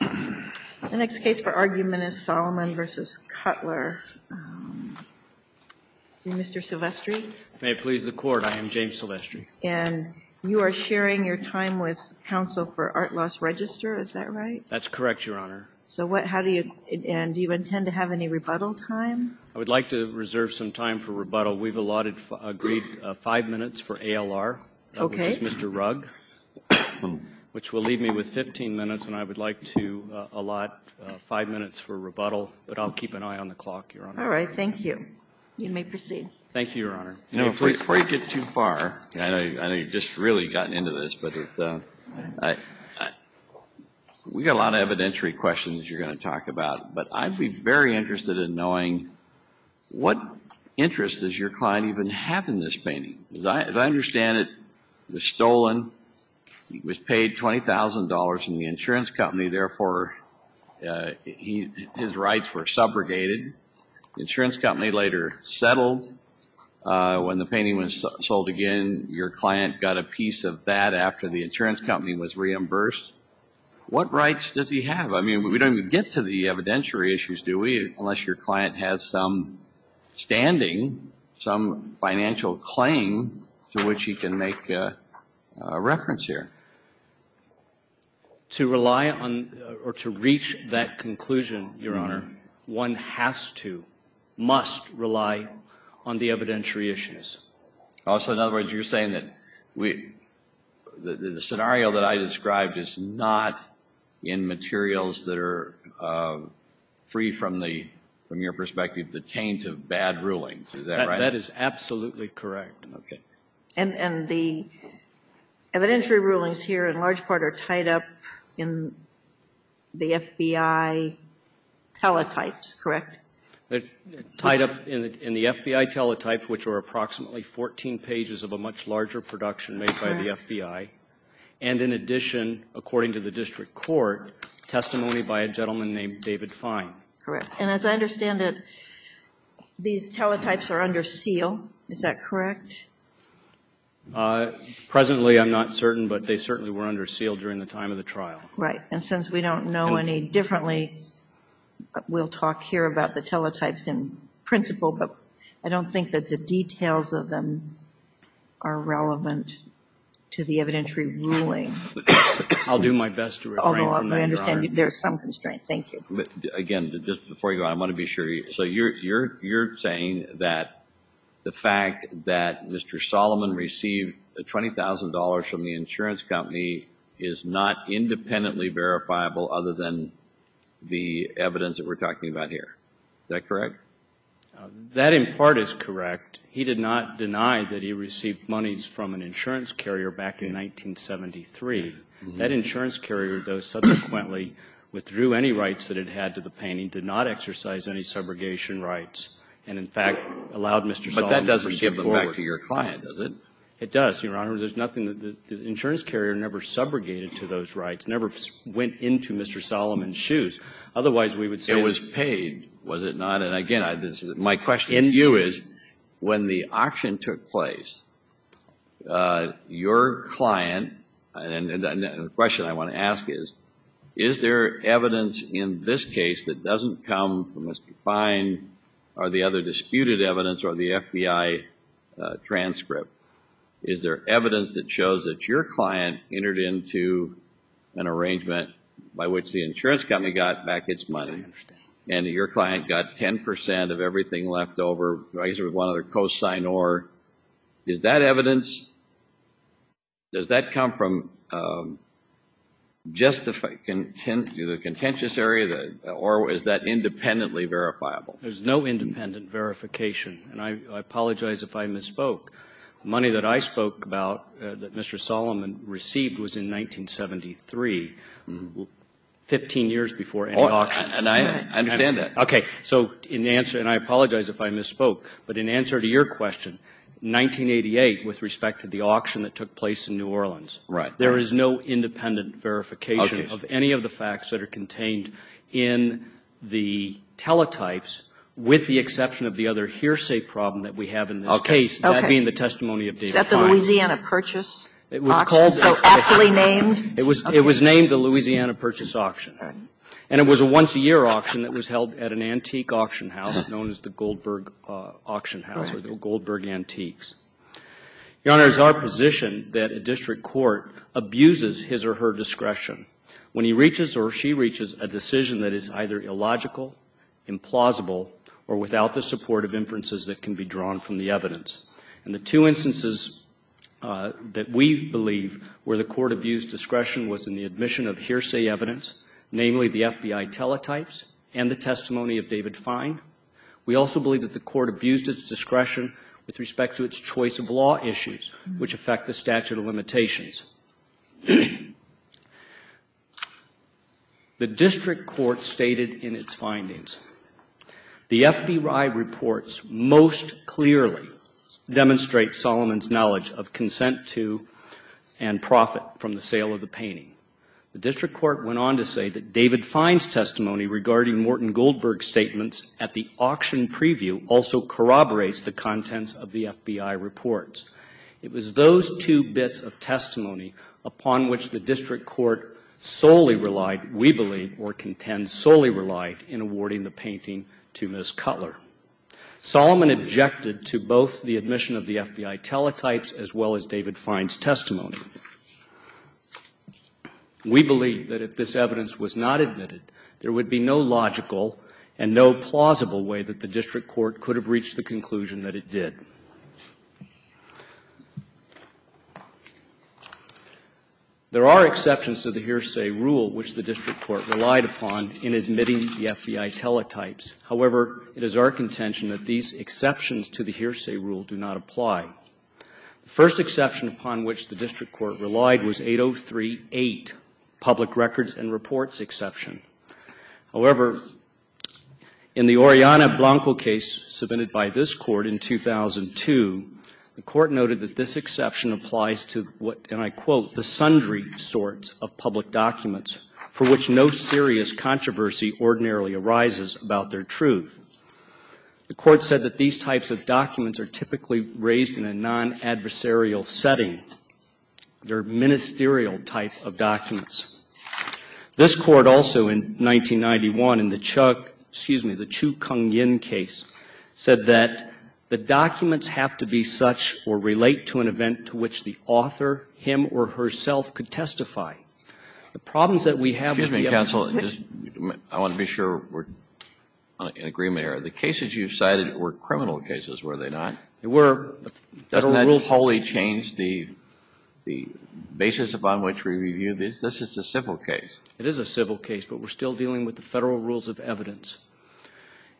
The next case for argument is Solomon v. Cutler. Mr. Silvestri. May it please the Court, I am James Silvestri. And you are sharing your time with counsel for Art Loss Register, is that right? That's correct, Your Honor. So what, how do you, and do you intend to have any rebuttal time? I would like to reserve some time for rebuttal. We've allotted, agreed, five minutes for ALR. Okay. My name is Mr. Rugg, which will leave me with 15 minutes, and I would like to allot five minutes for rebuttal, but I'll keep an eye on the clock, Your Honor. All right. Thank you. You may proceed. Thank you, Your Honor. Before you get too far, and I know you've just really gotten into this, but it's a, I, we've got a lot of evidentiary questions you're going to talk about, but I'd be very interested in knowing what interest does your client even have in this painting? As I understand it, it was stolen. It was paid $20,000 from the insurance company. Therefore, his rights were subrogated. The insurance company later settled. When the painting was sold again, your client got a piece of that after the insurance company was reimbursed. What rights does he have? I mean, we don't even get to the evidentiary issues, do we, unless your client has some standing, some financial claim to which he can make a reference here. To rely on, or to reach that conclusion, Your Honor, one has to, must rely on the evidentiary issues. Also, in other words, you're saying that the scenario that I described is not in the taint of bad rulings. Is that right? That is absolutely correct. Okay. And the evidentiary rulings here, in large part, are tied up in the FBI teletypes, correct? Tied up in the FBI teletypes, which are approximately 14 pages of a much larger production made by the FBI, and in addition, according to the district court, testimony by a gentleman named David Fine. Correct. And as I understand it, these teletypes are under seal, is that correct? Presently, I'm not certain, but they certainly were under seal during the time of the trial. Right. And since we don't know any differently, we'll talk here about the teletypes in principle, but I don't think that the details of them are relevant to the evidentiary ruling. I'll do my best to refrain from that, Your Honor. Although I understand there's some constraint. Thank you. Again, just before you go, I want to be sure, so you're saying that the fact that Mr. Solomon received $20,000 from the insurance company is not independently verifiable other than the evidence that we're talking about here, is that correct? That, in part, is correct. He did not deny that he received monies from an insurance carrier back in 1973. That insurance carrier, though, subsequently withdrew any rights that it had to the painting, did not exercise any subrogation rights, and, in fact, allowed Mr. Solomon to proceed forward. But that doesn't give them back to your client, does it? It does, Your Honor. The insurance carrier never subrogated to those rights, never went into Mr. Solomon's shoes. Otherwise, we would say it was paid, was it not? And, again, my question to you is, when the auction took place, your client, and the question I want to ask is, is there evidence in this case that doesn't come from Mr. Fein, or the other disputed evidence, or the FBI transcript, is there evidence that shows that your client entered into an arrangement by which the insurance company got back its money, and your client got 10% of everything left over, I guess it was one other cosign, or is that evidence, does that come from just the contentious area, or is that independently verifiable? There's no independent verification, and I apologize if I misspoke. The money that I spoke about, that Mr. Solomon received, was in 1973, 15 years before any auction. And I understand that. Okay. So in answer, and I apologize if I misspoke, but in answer to your question, 1988, with respect to the auction that took place in New Orleans, there is no independent verification of any of the facts that are contained in the teletypes, with the exception of the other hearsay problem that we have in this case, that being the testimony of David Fein. Is that the Louisiana Purchase Auction, so aptly named? It was named the Louisiana Purchase Auction, and it was a once-a-year auction that was held at an antique auction house known as the Goldberg Auction House, or the Goldberg Antiques. Your Honor, it is our position that a district court abuses his or her discretion when he reaches or she reaches a decision that is either illogical, implausible, or without the support of inferences that can be drawn from the evidence. And the two instances that we believe where the court abused discretion was in the testimony of David Fein. We also believe that the court abused its discretion with respect to its choice of law issues, which affect the statute of limitations. The district court stated in its findings, the FBI reports most clearly demonstrate Solomon's knowledge of consent to and profit from the sale of the painting. The district court went on to say that David Fein's testimony regarding Morton Goldberg's statements at the auction preview also corroborates the contents of the FBI reports. It was those two bits of testimony upon which the district court solely relied, we believe, or contends solely relied in awarding the painting to Ms. Cutler. Solomon objected to both the admission of the FBI teletypes as well as David Fein's testimony. We believe that if this evidence was not admitted, there would be no logical and no plausible way that the district court could have reached the conclusion that it did. There are exceptions to the hearsay rule which the district court relied upon in admitting the FBI teletypes. However, it is our contention that these exceptions to the hearsay rule do not apply. The first exception upon which the district court relied was 8038, public records and reports exception. However, in the Oriana Blanco case submitted by this court in 2002, the court noted that this exception applies to what, and I quote, the sundry sorts of public documents for which no serious controversy ordinarily arises about their truth. The court said that these types of documents are typically raised in a non-adversarial setting. They are ministerial type of documents. This court also in 1991, in the Chuck, excuse me, the Chu Kung Yin case, said that the documents have to be such or relate to an event to which the author, him or herself, could testify. The problems that we have with the FBI. Excuse me, counsel. I want to be sure we're in agreement here. The cases you've cited were criminal cases, were they not? They were. But that totally changed the basis upon which we review this. This is a civil case. It is a civil case, but we're still dealing with the Federal Rules of Evidence.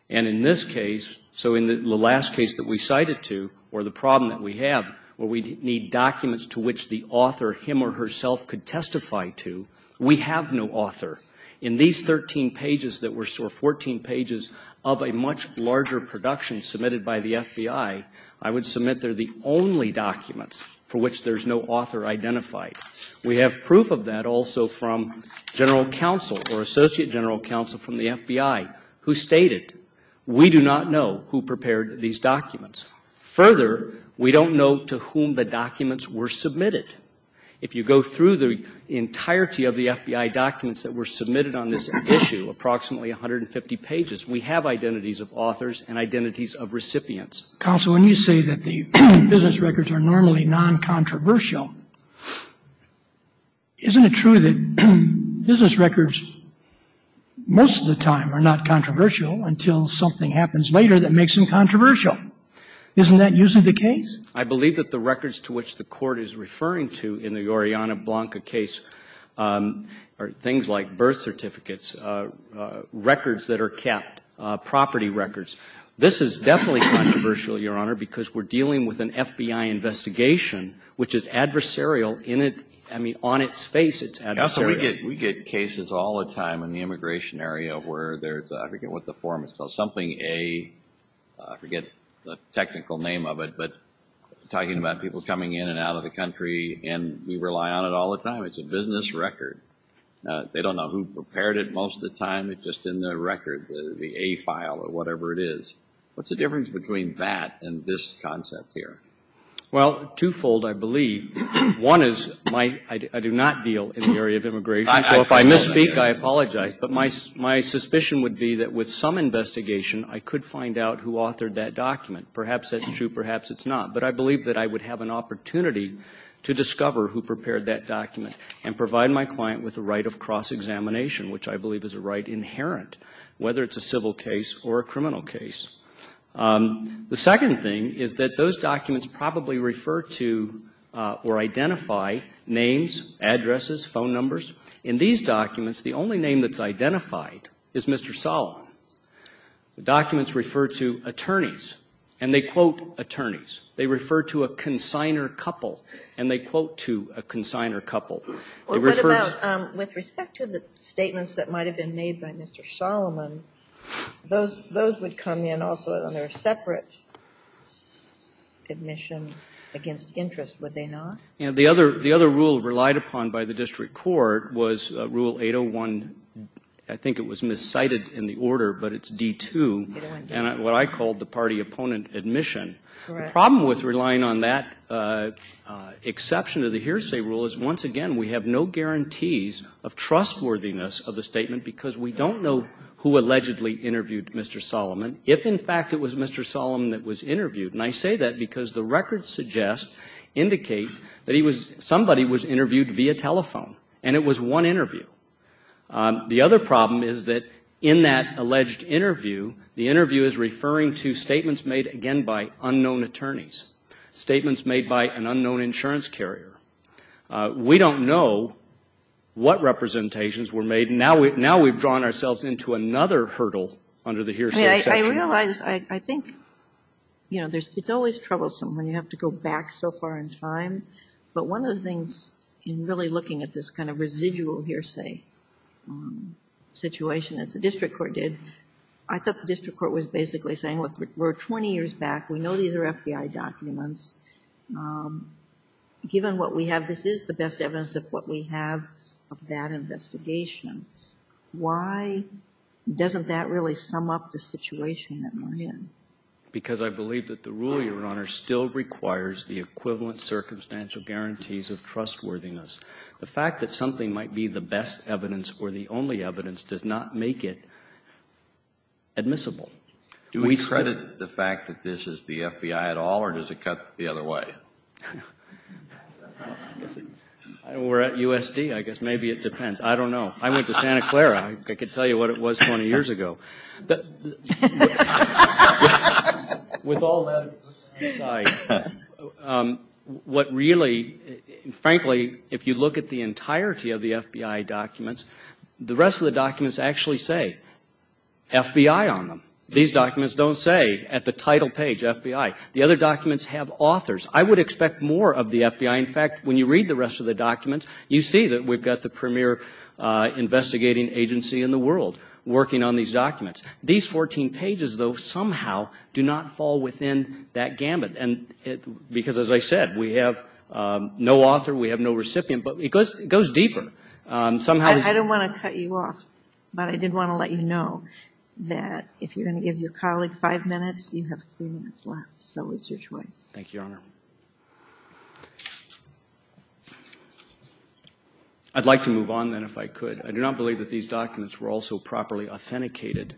And in this case, so in the last case that we cited to, or the problem that we have, where we need documents to which the author, him or herself, could testify to, we have no author. In these 13 pages that were, or 14 pages of a much larger production submitted by the FBI, I would submit they're the only documents for which there's no author identified. We have proof of that also from general counsel or associate general counsel from the FBI, who stated, we do not know who prepared these documents. Further, we don't know to whom the documents were submitted. If you go through the entirety of the FBI documents that were submitted on this issue, approximately 150 pages, we have identities of authors and identities of recipients. Counsel, when you say that the business records are normally non-controversial, isn't it true that business records most of the time are not controversial until something happens later that makes them controversial? Isn't that usually the case? I believe that the records to which the Court is referring to in the Oriana Blanca case are things like birth certificates, records that are kept, property records. This is definitely controversial, Your Honor, because we're dealing with an FBI investigation which is adversarial in its, I mean, on its face it's adversarial. Counsel, we get cases all the time in the immigration area where there's, I forget what the form is called, something A, I forget the technical name of it, but talking about people coming in and out of the country and we rely on it all the time. It's a business record. They don't know who prepared it most of the time. It's just in the record, the A file or whatever it is. What's the difference between that and this concept here? Well, twofold, I believe. One is, I do not deal in the area of immigration, so if I misspeak, I apologize. But my suspicion would be that with some investigation, I could find out who authored that document. Perhaps that's true, perhaps it's not. But I believe that I would have an opportunity to discover who prepared that document and provide my client with a right of cross-examination, which I believe is a right inherent, whether it's a civil case or a criminal case. The second thing is that those documents probably refer to or identify names, addresses, phone numbers. In these documents, the only name that's identified is Mr. Solomon. The documents refer to attorneys, and they quote attorneys. They refer to a consigner couple, and they quote to a consigner couple. With respect to the statements that might have been made by Mr. Solomon, those would come in also on their separate admission against interest, would they not? The other rule relied upon by the district court was Rule 801, I think it was miscited in the order, but it's D-2, and what I called the party opponent admission. The problem with relying on that exception of the hearsay rule is, once again, we have no guarantees of trustworthiness of the statement because we don't know who allegedly interviewed Mr. Solomon. If, in fact, it was Mr. Solomon that was interviewed, and I say that because the records suggest, indicate that somebody was interviewed via telephone, and it was one interview. The other problem is that in that alleged interview, the interview is referring to statements made, again, by unknown attorneys, statements made by an unknown insurance carrier. We don't know what representations were made, and now we've drawn ourselves into another hurdle under the hearsay section. I realize, I think, you know, it's always troublesome when you have to go back so far in time, but one of the things in really looking at this kind of residual hearsay situation, as the district court did, I thought the district court was basically saying, look, we're 20 years back, we know these are FBI documents. Given what we have, this is the best evidence of what we have of that investigation. Why doesn't that really sum up the situation that we're in? Because I believe that the rule, Your Honor, still requires the equivalent circumstantial guarantees of trustworthiness. The fact that something might be the best evidence or the only evidence does not make it admissible. Do we credit the fact that this is the FBI at all, or does it cut the other way? We're at USD, I guess, maybe it depends. I don't know. I went to Santa Clara, I could tell you what it was 20 years ago. With all that aside, what really, frankly, if you look at the entirety of the FBI documents, the rest of the documents actually say FBI on them. These documents don't say, at the title page, FBI. The other documents have authors. I would expect more of the FBI. In fact, when you read the rest of the documents, you see that we've got the premier investigating agency in the world working on these documents. These 14 pages, though, somehow do not fall within that gamut. Because, as I said, we have no author, we have no recipient, but it goes deeper. I don't want to cut you off, but I did want to let you know that if you're going to give your colleague five minutes, you have three minutes left, so it's your choice. I'd like to move on, then, if I could. I do not believe that these documents were also properly authenticated.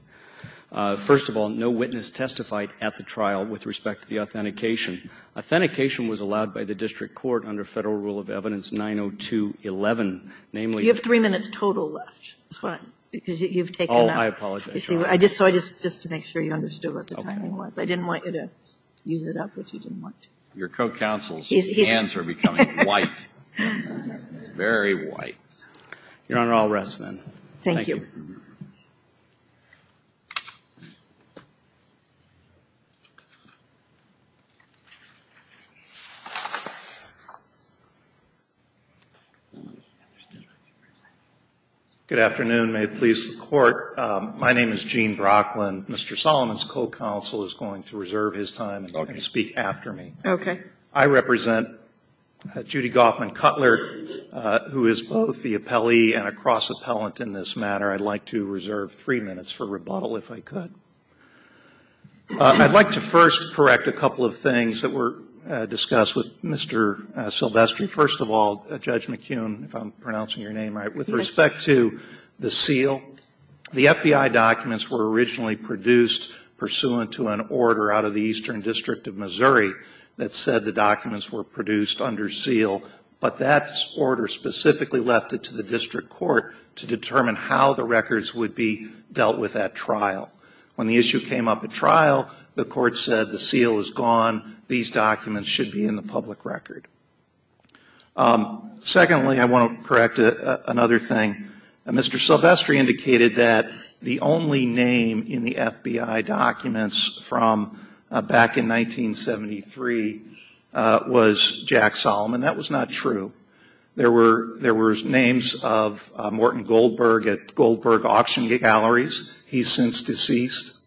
First of all, no witness testified at the trial with respect to the authentication. Authentication was allowed by the district court under Federal Rule of Evidence 902.11, namely... You have three minutes total left. Oh, I apologize. Just to make sure you understood what the timing was. I didn't want you to use it up, which you didn't want to. Your co-counsel's hands are becoming white. Very white. Your Honor, I'll rest, then. Thank you. Good afternoon. May it please the Court. My name is Gene Brocklin. Mr. Solomon's co-counsel is going to reserve his time and speak after me. I represent Judy Goffman Cutler, who is both the appellee and a cross-appellant in this matter. I'd like to reserve three minutes for rebuttal, if I could. I'd like to first correct a couple of things that were discussed with Mr. Silvestri. First of all, Judge McKeon, if I'm pronouncing your name right, with respect to the seal, the FBI documents were originally produced pursuant to an order out of the Eastern District of Missouri. It said the documents were produced under seal, but that order specifically left it to the district court to determine how the records would be dealt with at trial. When the issue came up at trial, the court said the seal is gone, these documents should be in the public record. Secondly, I want to correct another thing. Mr. Silvestri indicated that the only name in the FBI documents from back in 1973 was Jack Solomon. That was not true. There were names of Morton Goldberg at Goldberg Auction Galleries. He's since deceased.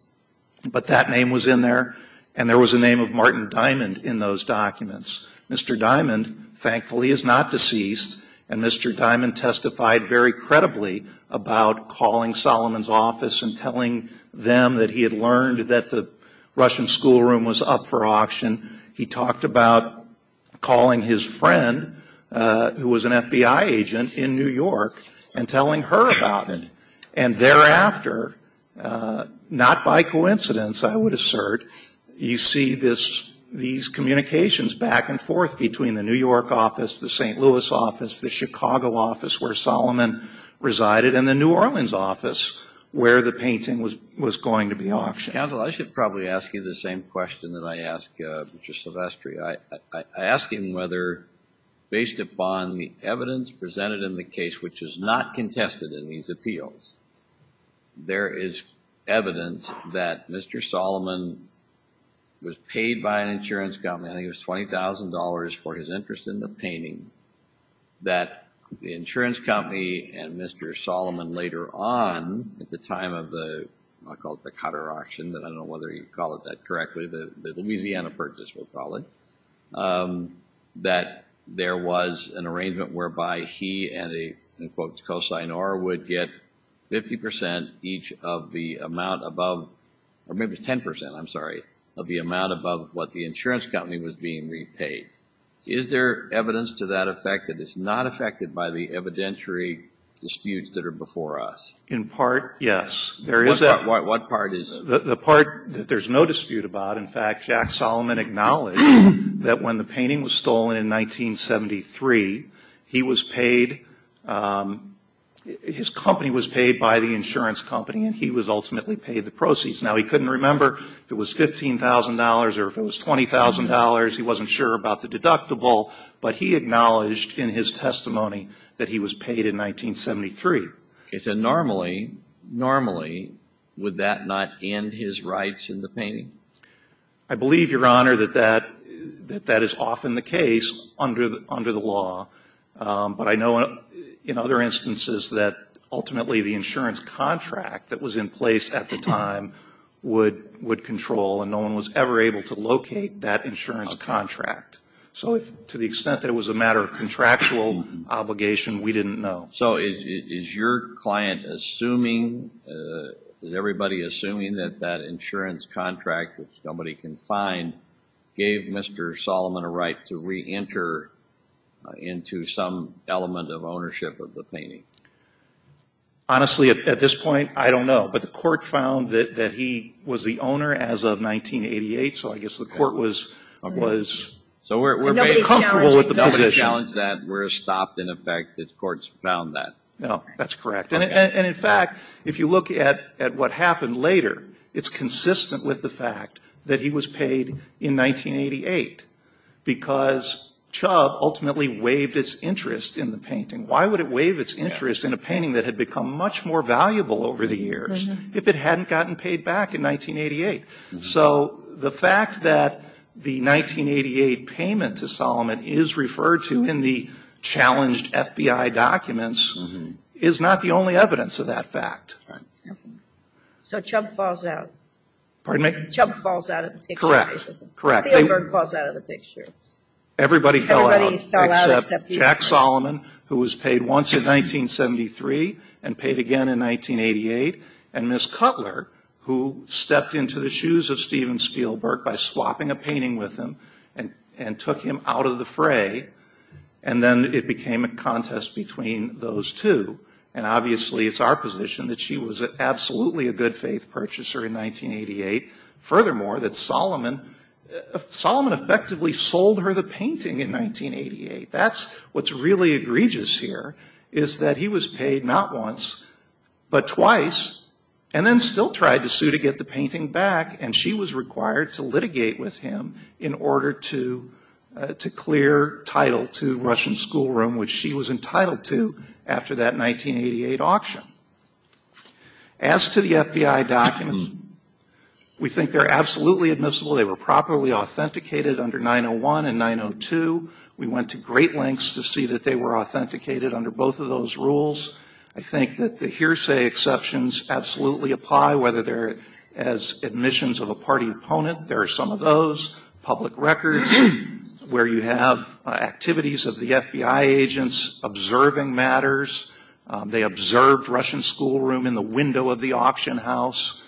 But that name was in there, and there was the name of Martin Diamond in those documents. Mr. Diamond, thankfully, is not deceased, and Mr. Diamond testified very credibly about calling Solomon's office and telling them that he had learned that the Russian schoolroom was up for auction. He talked about calling his friend, who was an FBI agent in New York, and telling her about it. And thereafter, not by coincidence, I would assert, you see these communications back and forth between the New York office, the St. Louis office, the Chicago office where Solomon resided, and the New Orleans office where the painting was going to be auctioned. Counsel, I should probably ask you the same question that I asked Mr. Silvestri. I ask him whether, based upon the evidence presented in the case, which is not contested in these appeals, there is evidence that Mr. Solomon was paid by an insurance company, I think it was $20,000, for his interest in the painting, that the insurance company and Mr. Solomon later on, at the time of the, I'll call it the Cotter auction, I don't know whether you'd call it that correctly, the Louisiana Purchase, we'll call it, that there was an arrangement whereby he and a, in quotes, cosigner would get 50% each of the amount above, or maybe it was 10%, I'm sorry, of the amount above what the insurance company was being repaid. Is there evidence to that effect that it's not affected by the evidentiary disputes that are before us? In part, yes. What part is it? The part that there's no dispute about, in fact, Jack Solomon acknowledged that when the painting was stolen in 1973, he was paid, his company was paid by the insurance company and he was ultimately paid the proceeds. Now, he couldn't remember if it was $15,000 or if it was $20,000, he wasn't sure about the deductible, but he acknowledged in his testimony that he was paid in 1973. And normally, normally, would that not end his rights in the painting? I believe, Your Honor, that that is often the case under the law, but I know in other instances that ultimately the insurance contract that was in place at the time would control and no one was ever able to locate that insurance contract. So to the extent that it was a matter of contractual obligation, we didn't know. So is your client assuming, is everybody assuming that that insurance contract that somebody can find gave Mr. Solomon a right to reenter into some element of ownership of the painting? Honestly, at this point, I don't know, but the court found that he was the owner as of 1988, so I guess the court was comfortable with the position. Nobody challenged that, we're stopped in effect, the courts found that. No, that's correct. And in fact, if you look at what happened later, it's consistent with the fact that he was paid in 1988 because Chubb ultimately waived his interest in the painting. Why would it waive its interest in a painting that had become much more valuable over the years if it hadn't gotten paid back in 1988? So the fact that the 1988 payment to Solomon is referred to in the challenged FBI documents is not the only evidence of that fact. So Chubb falls out. Pardon me? Chubb falls out of the picture. Correct. Spielberg falls out of the picture. Everybody fell out except Jack Solomon, who was paid once in 1973 and paid again in 1988, and Miss Cutler, who stepped into the shoes of Steven Spielberg by swapping a painting with him and took him out of the fray, and then it became a contest between those two. And obviously it's our position that she was absolutely a good faith purchaser in 1988. Furthermore, that Solomon effectively sold her the painting in 1988. That's what's really egregious here, is that he was paid not once, but twice, and then still tried to sue to get the painting back, and she was required to litigate with him in order to clear title to Russian Schoolroom, which she was entitled to after that 1988 auction. As to the FBI documents, we think they're absolutely admissible. They were properly authenticated under 901 and 902. We went to great lengths to see that they were authenticated under both of those rules. I think that the hearsay exceptions absolutely apply, whether they're as admissions of a party opponent. There are some of those. Public records, where you have activities of the FBI agents observing matters. They observed Russian Schoolroom in the window of the auction house.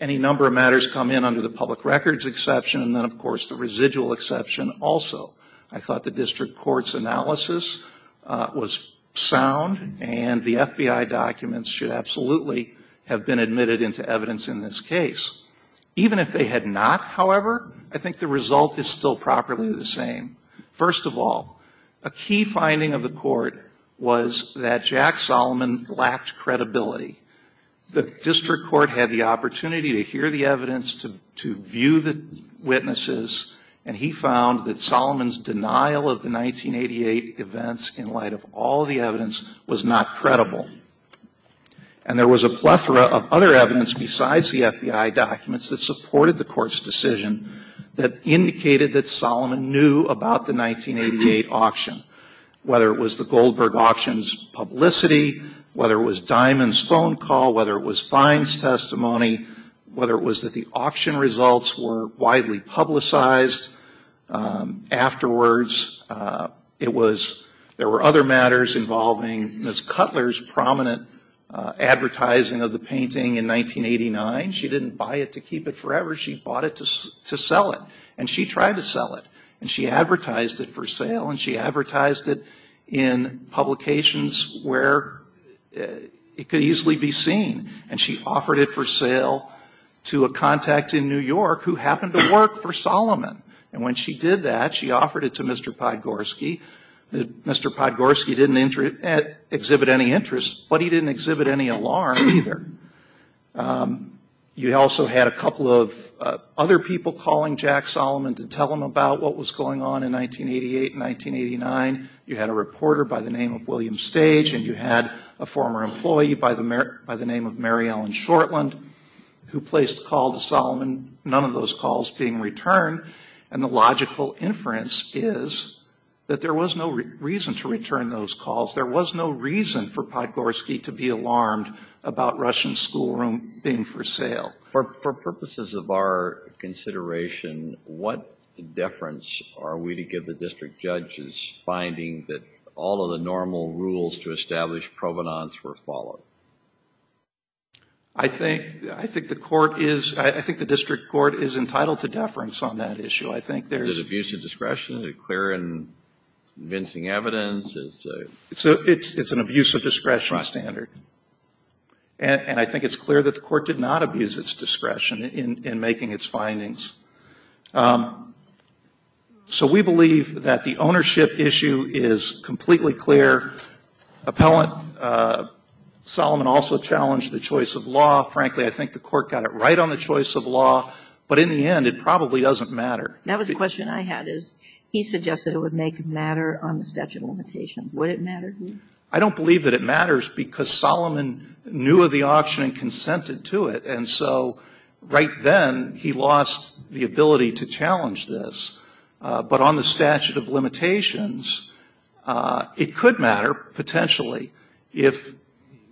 Any number of matters come in under the public records exception, and then, of course, the residual exception also. I thought the district court's analysis was sound, and the FBI documents should absolutely have been admitted into evidence in this case. Even if they had not, however, I think the result is still properly the same. First of all, a key finding of the court was that Jack Solomon lacked credibility. The district court had the opportunity to hear the evidence, to view the witnesses, and he found that Solomon's denial of the 1988 events in light of all the evidence was not credible. And there was a plethora of other evidence besides the FBI documents that supported the court's decision that indicated that Solomon knew about the 1988 auction, whether it was the Goldberg auction's publicity, whether it was Diamond's phone call, whether it was Fine's testimony, whether it was that the auction results were widely publicized afterwards. There were other matters involving Ms. Cutler's prominent advertising of the painting in 1989. She didn't buy it to keep it forever. She bought it to sell it, and she tried to sell it. And she advertised it for sale, and she advertised it in publications where it could easily be seen. And she offered it for sale to a contact in New York who happened to work for Solomon. And when she did that, she offered it to Mr. Podgorski. Mr. Podgorski didn't exhibit any interest, but he didn't exhibit any alarm either. You also had a couple of other people calling Jack Solomon to tell him about what was going on in 1988 and 1989. You had a reporter by the name of William Stage, and you had a former employee by the name of Mary Ellen Shortland who placed a call to Solomon, none of those calls being returned. And the logical inference is that there was no reason to return those calls. There was no reason for Podgorski to be alarmed about Russian schoolroom being for sale. For purposes of our consideration, what deference are we to give the district judge's finding that all of the normal rules to establish provenance were followed? I think the court is, I think the district court is entitled to deference on that issue. I think there's... It's a clear and convincing evidence. It's an abuse of discretion standard. And I think it's clear that the court did not abuse its discretion in making its findings. So we believe that the ownership issue is completely clear. Appellant Solomon also challenged the choice of law. He suggested it would make it matter on the statute of limitations. Would it matter to you? I don't believe that it matters because Solomon knew of the auction and consented to it, and so right then he lost the ability to challenge this. But on the statute of limitations, it could matter potentially if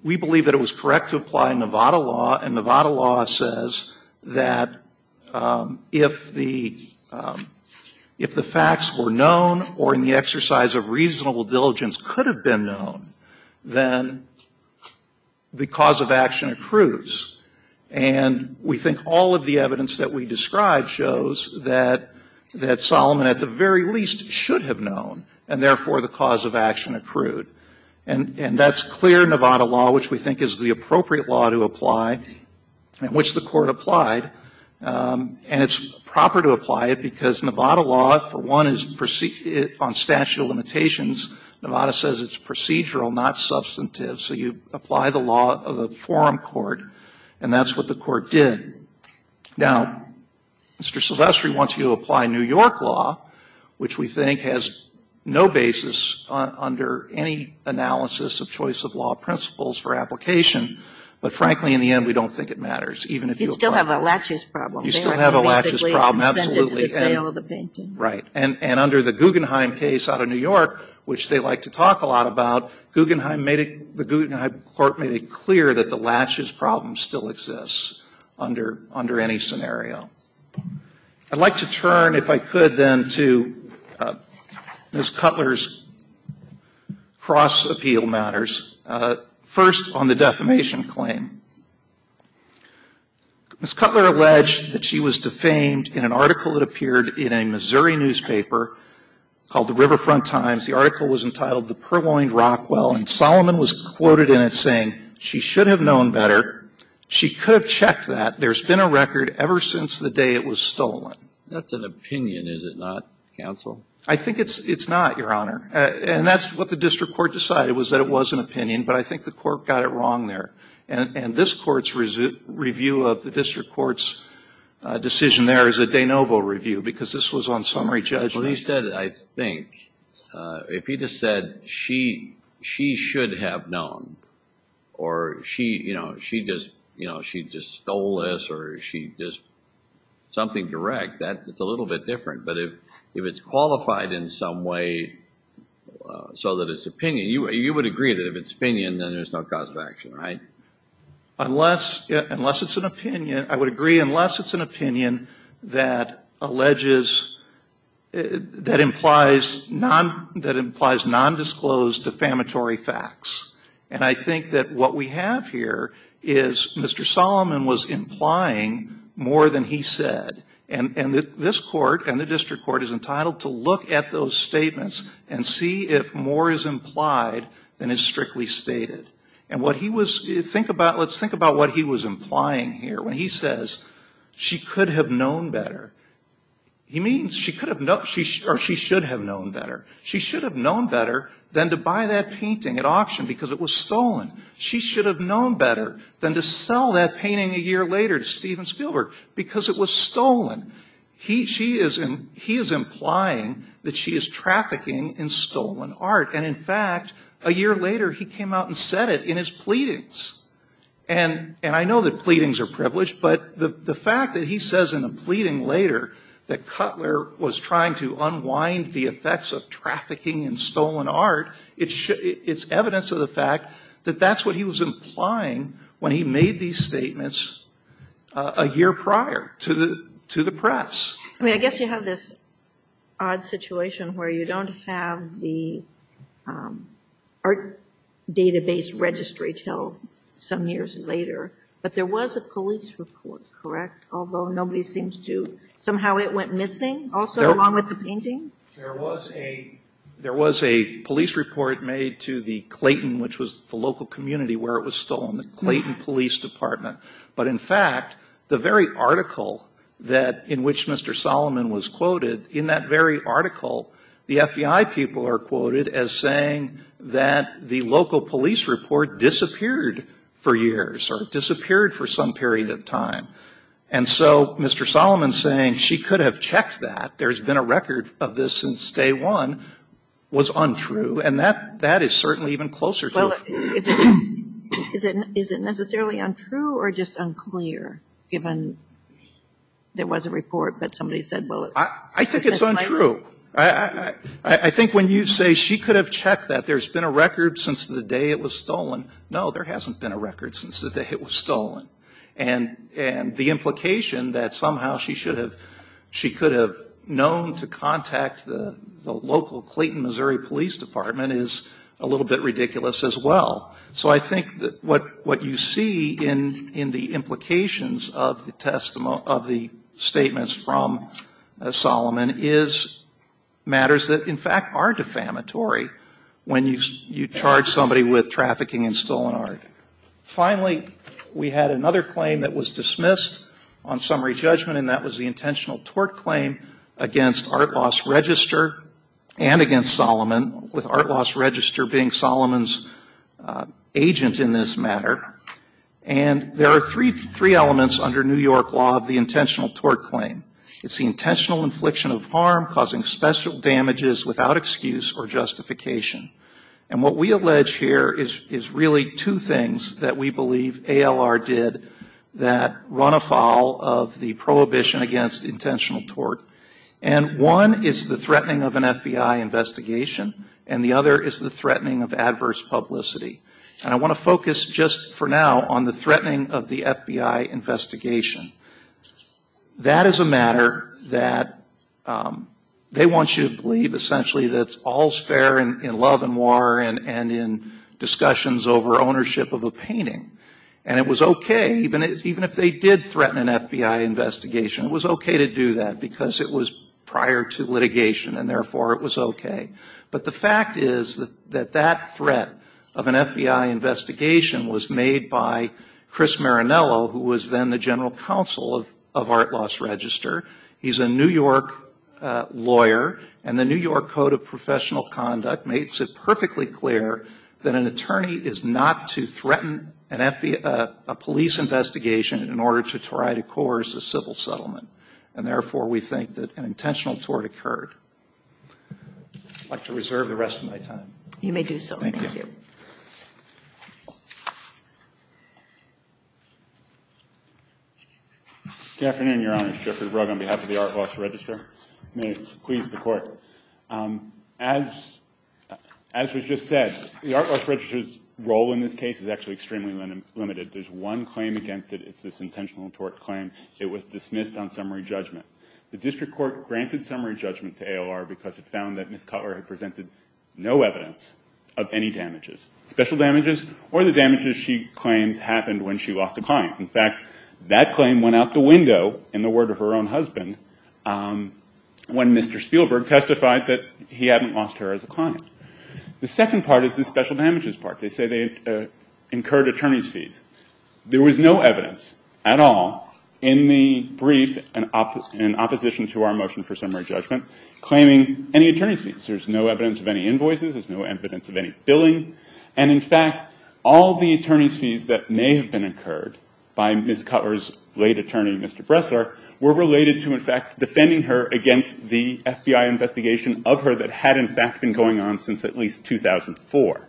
we believe that it was correct to apply Nevada law, and Nevada law says that if the facts were known or in the exercise of reasonable diligence could have been known, then the cause of action accrues. And we think all of the evidence that we describe shows that Solomon at the very least should have known, and therefore the cause of action accrued. And that's clear Nevada law, which we think is the appropriate law to apply and which the court applied. And it's proper to apply it because Nevada law, for one, is on statute of limitations. Nevada says it's procedural, not substantive. So you apply the law of a forum court, and that's what the court did. Now, Mr. Silvestri wants you to apply New York law, which we think has no basis under any analysis of choice of law principles for application. But frankly, in the end, we don't think it matters, even if you apply it. You still have a laches problem. You still have a laches problem, absolutely. And under the Guggenheim case out of New York, which they like to talk a lot about, the Guggenheim court made it clear that the laches problem still exists under any scenario. I'd like to turn, if I could, then, to Ms. Cutler's cross-appeal matters. First, on the defamation claim. Ms. Cutler alleged that she was defamed in an article that appeared in a Missouri newspaper called the Riverfront Times. The article was entitled The Purloined Rockwell, and Solomon was quoted in it saying, she should have known better, she could have checked that, there's been a record ever since the day it was stolen. That's an opinion, is it not, counsel? I think it's not, Your Honor, and that's what the district court decided, was that it was an opinion, but I think the court got it wrong there. And this court's review of the district court's decision there is a de novo review, because this was on summary judgment. Well, he said, I think. If he just said, she should have known, or she just stole this, or she just, something direct, that's a little bit different. But if it's qualified in some way, so that it's opinion, you would agree that if it's opinion, then there's no cause of action, right? Unless it's an opinion, I would agree, unless it's an opinion that alleges, that implies no cause of action, that implies nondisclosed defamatory facts. And I think that what we have here is Mr. Solomon was implying more than he said. And this court and the district court is entitled to look at those statements and see if more is implied than is strictly stated. And what he was, think about, let's think about what he was implying here. When he says, she could have known better, he means she could have known, or she should have known better. She should have known better than to buy that painting at auction because it was stolen. She should have known better than to sell that painting a year later to Steven Spielberg because it was stolen. He is implying that she is trafficking in stolen art. And in fact, a year later, he came out and said it in his pleadings. And I know that pleadings are privileged, but the fact that he says in a pleading later that Cutler was trying to unwind the effects of trafficking in stolen art, it's evidence of the fact that that's what he was implying when he made these statements a year prior to the press. I mean, I guess you have this odd situation where you don't have the art database registry until some years later, but there was a police report, correct? Although nobody seems to, somehow it went missing, also along with the painting? There was a police report made to the Clayton, which was the local community where it was stolen, the Clayton Police Department. But in fact, the very article in which Mr. Solomon was quoted, in that very article, the FBI people are quoted as saying that the local police report disappeared for years or disappeared for some period of time. And so Mr. Solomon saying she could have checked that, there's been a record of this since day one, was untrue. And that is certainly even closer to the truth. Is it necessarily untrue or just unclear, given there was a report, but somebody said, well, it's misplaced? It's true. I think when you say she could have checked that, there's been a record since the day it was stolen. No, there hasn't been a record since the day it was stolen. And the implication that somehow she could have known to contact the local Clayton, Missouri Police Department is a little bit ridiculous as well. So I think that what you see in the implications of the statements from Solomon is matters that in fact are defamatory when you charge somebody with trafficking in stolen art. Finally, we had another claim that was dismissed on summary judgment, and that was the intentional tort claim against Art Loss Register and against Solomon, with Art Loss Register being Solomon's agent in this matter. And there are three elements under New York law of the intentional tort claim. It's the intentional infliction of harm causing special damages without excuse or justification. And what we allege here is really two things that we believe ALR did that run afoul of the prohibition against intentional tort. And one is the threatening of an FBI investigation, and the other is the threatening of adverse publicity. And I want to focus just for now on the threatening of the FBI investigation. That is a matter that they want you to believe essentially that's all's fair in love and war and in discussions over ownership of a painting. And it was okay, even if they did threaten an FBI investigation, it was okay to do that, because it was prior to litigation, and therefore it was okay. But the fact is that that threat of an FBI investigation was made by Chris Marinello, who was then the general counsel of Art Loss Register. He's a New York lawyer, and the New York Code of Professional Conduct makes it perfectly clear that an attorney is not to threaten a police investigation in order to try to coerce a civil settlement, and therefore we think that an intentional tort occurred. I'd like to reserve the rest of my time. Good afternoon, Your Honor. As was just said, the Art Loss Register's role in this case is actually extremely limited. There's one claim against it, it's this intentional tort claim, it was dismissed on summary judgment. The district court granted summary judgment to ALR because it found that Ms. Cutler had presented no evidence of any damages, special damages or the damages she claims happened when she lost a client. In fact, that claim went out the window, in the word of her own husband, when Mr. Spielberg testified that he hadn't lost her as a client. The second part is the special damages part, they say they incurred attorney's fees. There was no evidence at all in the brief in opposition to our motion for summary judgment claiming any attorney's fees. There's no evidence of any invoices, there's no evidence of any billing, and in fact, all the attorney's fees that may have been incurred by Ms. Cutler's late attorney, Mr. Bressler, were related to, in fact, defending her against the FBI investigation of her that had, in fact, been going on since at least 2004.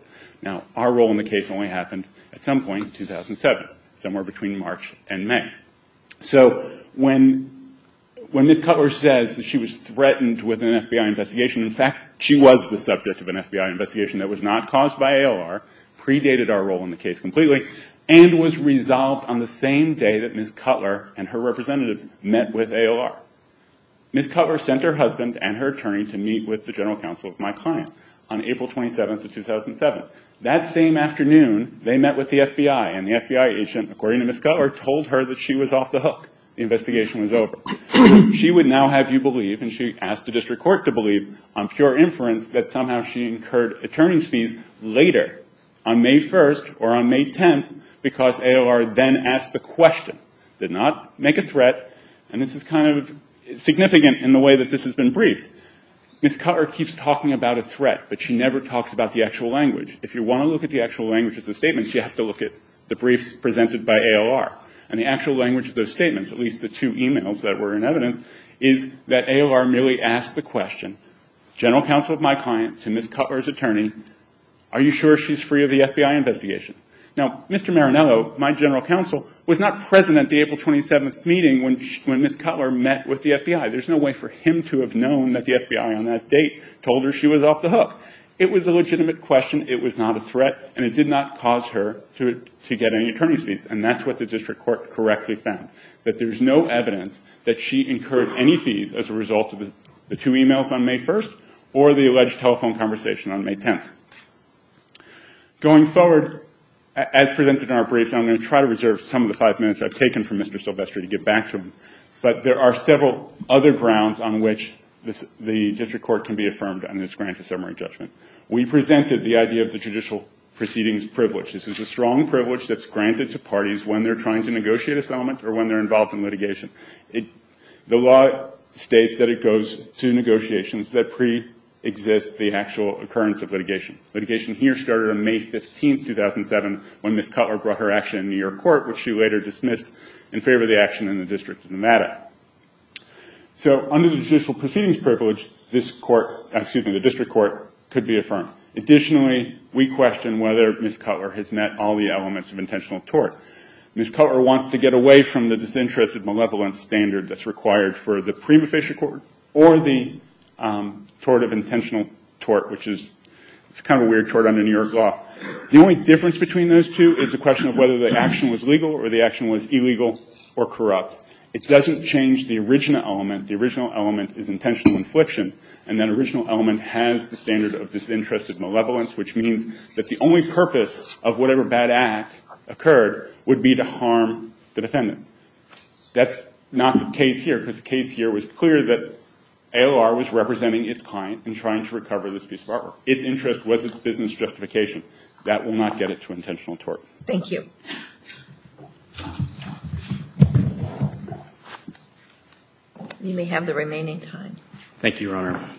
Now, our role in the case only happened at some point in 2007, somewhere between March and May. So when Ms. Cutler says that she was threatened with an FBI investigation, in fact, she was the subject of an FBI investigation that was not caused by ALR, predated our role in the case completely, and was resolved on the same day that Ms. Cutler and her representatives met with ALR. They met with my client on April 27th of 2007. That same afternoon, they met with the FBI, and the FBI agent, according to Ms. Cutler, told her that she was off the hook. The investigation was over. She would now have you believe, and she asked the district court to believe on pure inference that somehow she incurred attorney's fees later, on May 1st or on May 10th, because ALR then asked the question. Did not make a threat, and this is kind of significant in the way that this has been briefed. Ms. Cutler keeps talking about a threat, but she never talks about the actual language. If you want to look at the actual language of the statements, you have to look at the briefs presented by ALR. And the actual language of those statements, at least the two e-mails that were in evidence, is that ALR merely asked the question, general counsel of my client to Ms. Cutler's attorney, are you sure she's free of the FBI investigation? Now, Mr. Marinello, my general counsel, was not present at the April 27th meeting when Ms. Cutler met with the FBI. There's no way for him to have known that the FBI on that date told her she was off the hook. It was a legitimate question, it was not a threat, and it did not cause her to get any attorney's fees. And that's what the district court correctly found, that there's no evidence that she incurred any fees as a result of the two e-mails on May 1st or the alleged telephone conversation on May 10th. Going forward, as presented in our briefs, I'm going to try to reserve some of the five minutes I've taken from Mr. Silvestri to give back to him, but there are several other grounds on which the district court can be affirmed on this grant of summary judgment. We presented the idea of the judicial proceedings privilege. This is a strong privilege that's granted to parties when they're trying to negotiate a settlement or when they're involved in litigation. The law states that it goes to negotiations that preexist the actual occurrence of litigation. The litigation here started on May 15th, 2007, when Ms. Cutler brought her action in New York court, which she later dismissed in favor of the action in the District of Nevada. Under the judicial proceedings privilege, the district court could be affirmed. Additionally, we question whether Ms. Cutler has met all the elements of intentional tort. Ms. Cutler wants to get away from the disinterested malevolence standard that's required for the prima facie court or the tort of intentional tort, which is kind of a weird tort under New York law. The only difference between those two is the question of whether the action was legal or the action was illegal or corrupt. It doesn't change the original element. The original element is intentional infliction, and that original element has the standard of disinterested malevolence, which means that the only purpose of whatever bad act occurred would be to harm the defendant. That's not the case here, because the case here was clear that AOR was representing its client in trying to recover this piece of artwork. Its interest was its business justification. That will not get it to intentional tort. Thank you. You may have the remaining time. Thank you, Your Honor.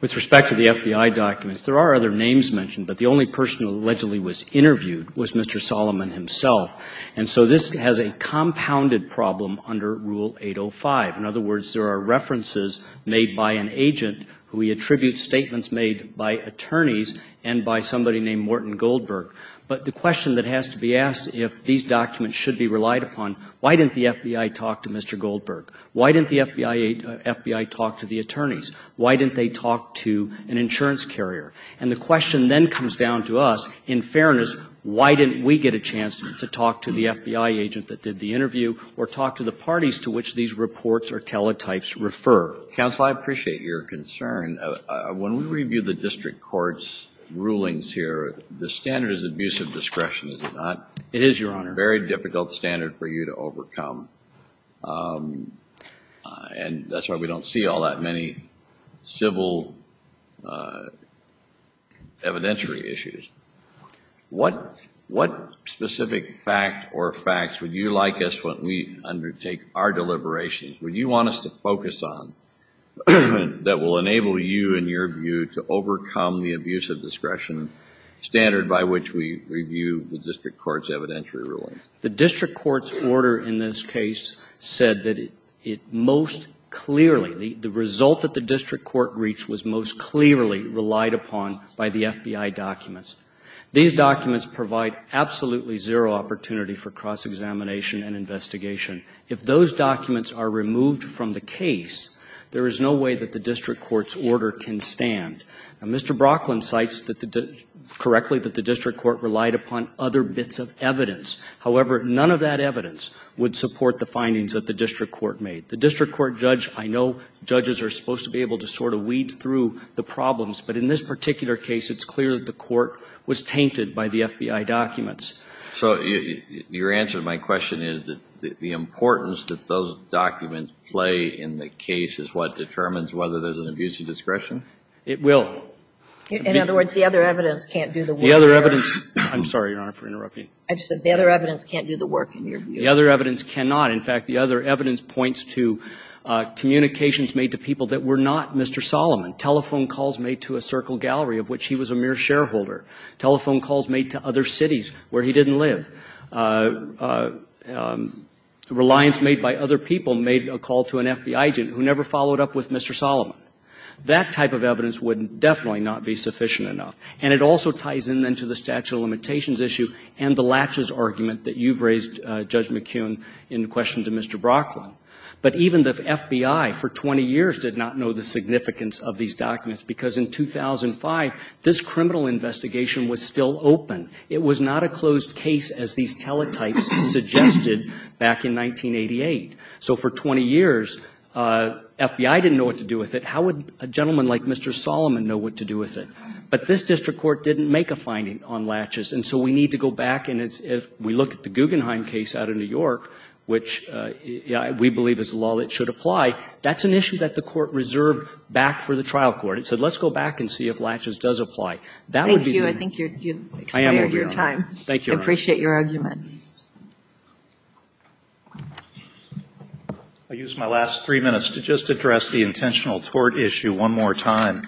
With respect to the FBI documents, there are other names mentioned, but the only person who allegedly was interviewed was Mr. Solomon himself, and so this has a compounded problem under Rule 805. In other words, there are references made by an agent who he attributes statements made by attorneys and by somebody named Morton Goldberg, but the question that has to be asked if these documents should be relied upon, why didn't the FBI talk to Mr. Goldberg? Why didn't the FBI talk to the attorneys? Why didn't they talk to an insurance carrier? And the question then comes down to us, in fairness, why didn't we get a chance to talk to the FBI agent that did the interview or talk to the parties to which these reports or teletypes refer? Counsel, I appreciate your concern. When we review the district court's rulings here, the standard is abusive discretion, is it not? It is, Your Honor. A very difficult standard for you to overcome, and that's why we don't see all that many civil evidentiary issues. What specific fact or facts would you like us, when we undertake our deliberations, would you want us to focus on that will enable you, in your view, to overcome the abusive discretion standard by which we review the district court's evidentiary rulings? The district court's order in this case said that it most clearly, the result that the district court reached was most clearly relied upon by the FBI documents. These documents provide absolutely zero opportunity for cross-examination and investigation. If those documents are removed from the case, there is no way that the district court's order can stand. Mr. Brocklin cites correctly that the district court relied upon other bits of evidence. However, none of that evidence would support the findings that the district court made. The district court judge, I know judges are supposed to be able to sort of weed through the problems, but in this particular case, it's clear that the court was tainted by the FBI documents. So your answer to my question is that the importance that those documents play in the case is what determines whether there's an abusive discretion? It will. In other words, the other evidence can't do the work. I'm sorry, Your Honor, for interrupting you. The other evidence cannot. In fact, the other evidence points to communications made to people that were not Mr. Solomon. Telephone calls made to a Circle Gallery of which he was a mere shareholder. Telephone calls made to other cities where he didn't live. Reliance made by other people made a call to an FBI agent who never followed up with Mr. Solomon. That type of evidence would definitely not be sufficient enough. And it also ties in then to the statute of limitations issue and the latches argument that you've raised, Judge McKeon, in question to Mr. Brocklin. But even the FBI for 20 years did not know the significance of these documents because in 2005, this criminal investigation was still open. It was not a closed case as these teletypes suggested back in 1988. So for 20 years, FBI didn't know what to do with it. How would a gentleman like Mr. Solomon know what to do with it? But this district court didn't make a finding on latches, and so we need to go back, and if we look at the Guggenheim case out of New York, which we believe is a law that should apply, that's an issue that the court reserved back for the trial court. It said, let's go back and see if latches does apply. That would be the end. I appreciate your argument. I use my last three minutes to just address the intentional tort issue one more time.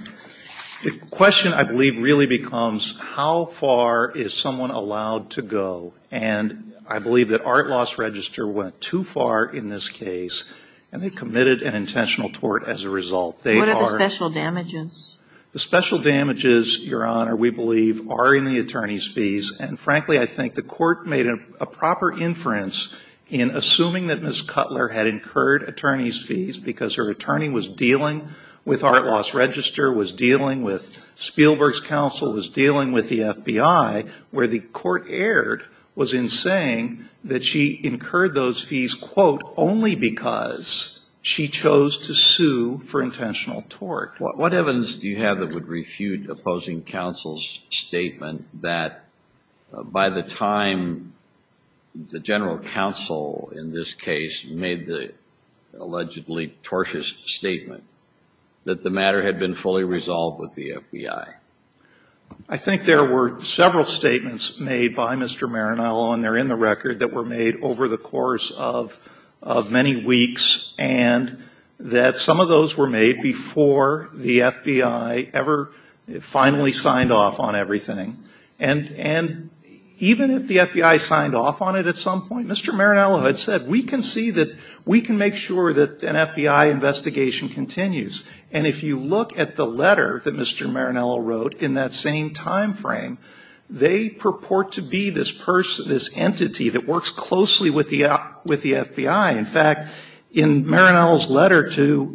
The question, I believe, really becomes how far is someone allowed to go? And I believe that Art Loss Register went too far in this case, and they committed an intentional tort as a result. They are. What are the special damages? The special damages, Your Honor, we believe are in the attorney's fees, and frankly, I think the court made a proper inference in assuming that Ms. Cutler had incurred attorney's fees because her attorney was dealing with Art Loss Register, was dealing with Spielberg's counsel, was dealing with the FBI, where the court erred was in saying that she incurred those fees, quote, only because she chose to sue for intentional tort. What evidence do you have that would refute opposing counsel's statement that by the time the general counsel in this case made the allegedly tortious statement that the matter had been fully resolved with the FBI? I think there were several statements made by Mr. Maranello, and they're in the record, that were made over the course of many weeks, and that some of those were made before the FBI ever finally signed off on everything. And even if the FBI signed off on it at some point, Mr. Maranello had said, we can see that, we can make sure that an FBI investigation continues. And if you look at the letter that Mr. Maranello wrote in that same timeframe, they purport to be this entity that works closely with the FBI. In fact, in Maranello's letter to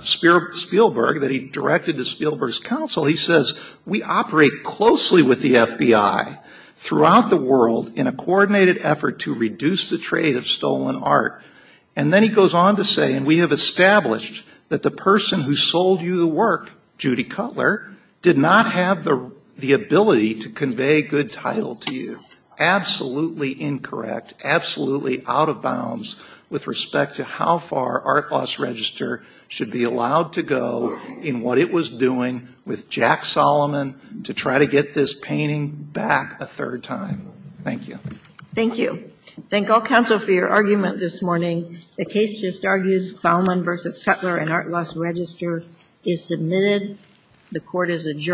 Spielberg, that he directed to Spielberg's counsel, he says, we operate closely with the FBI throughout the world in a coordinated effort to reduce the trade of stolen art. And then he goes on to say, and we have established that the person who sold you the work, Judy Cutler, did not have the authority to do that. And that is absolutely incorrect, absolutely out of bounds with respect to how far Art Loss Register should be allowed to go in what it was doing with Jack Solomon to try to get this painting back a third time. Thank you. Thank you. Thank all counsel for your argument this morning. The case just argued, Solomon v. Cutler and Art Loss Register is submitted. The court is adjourned.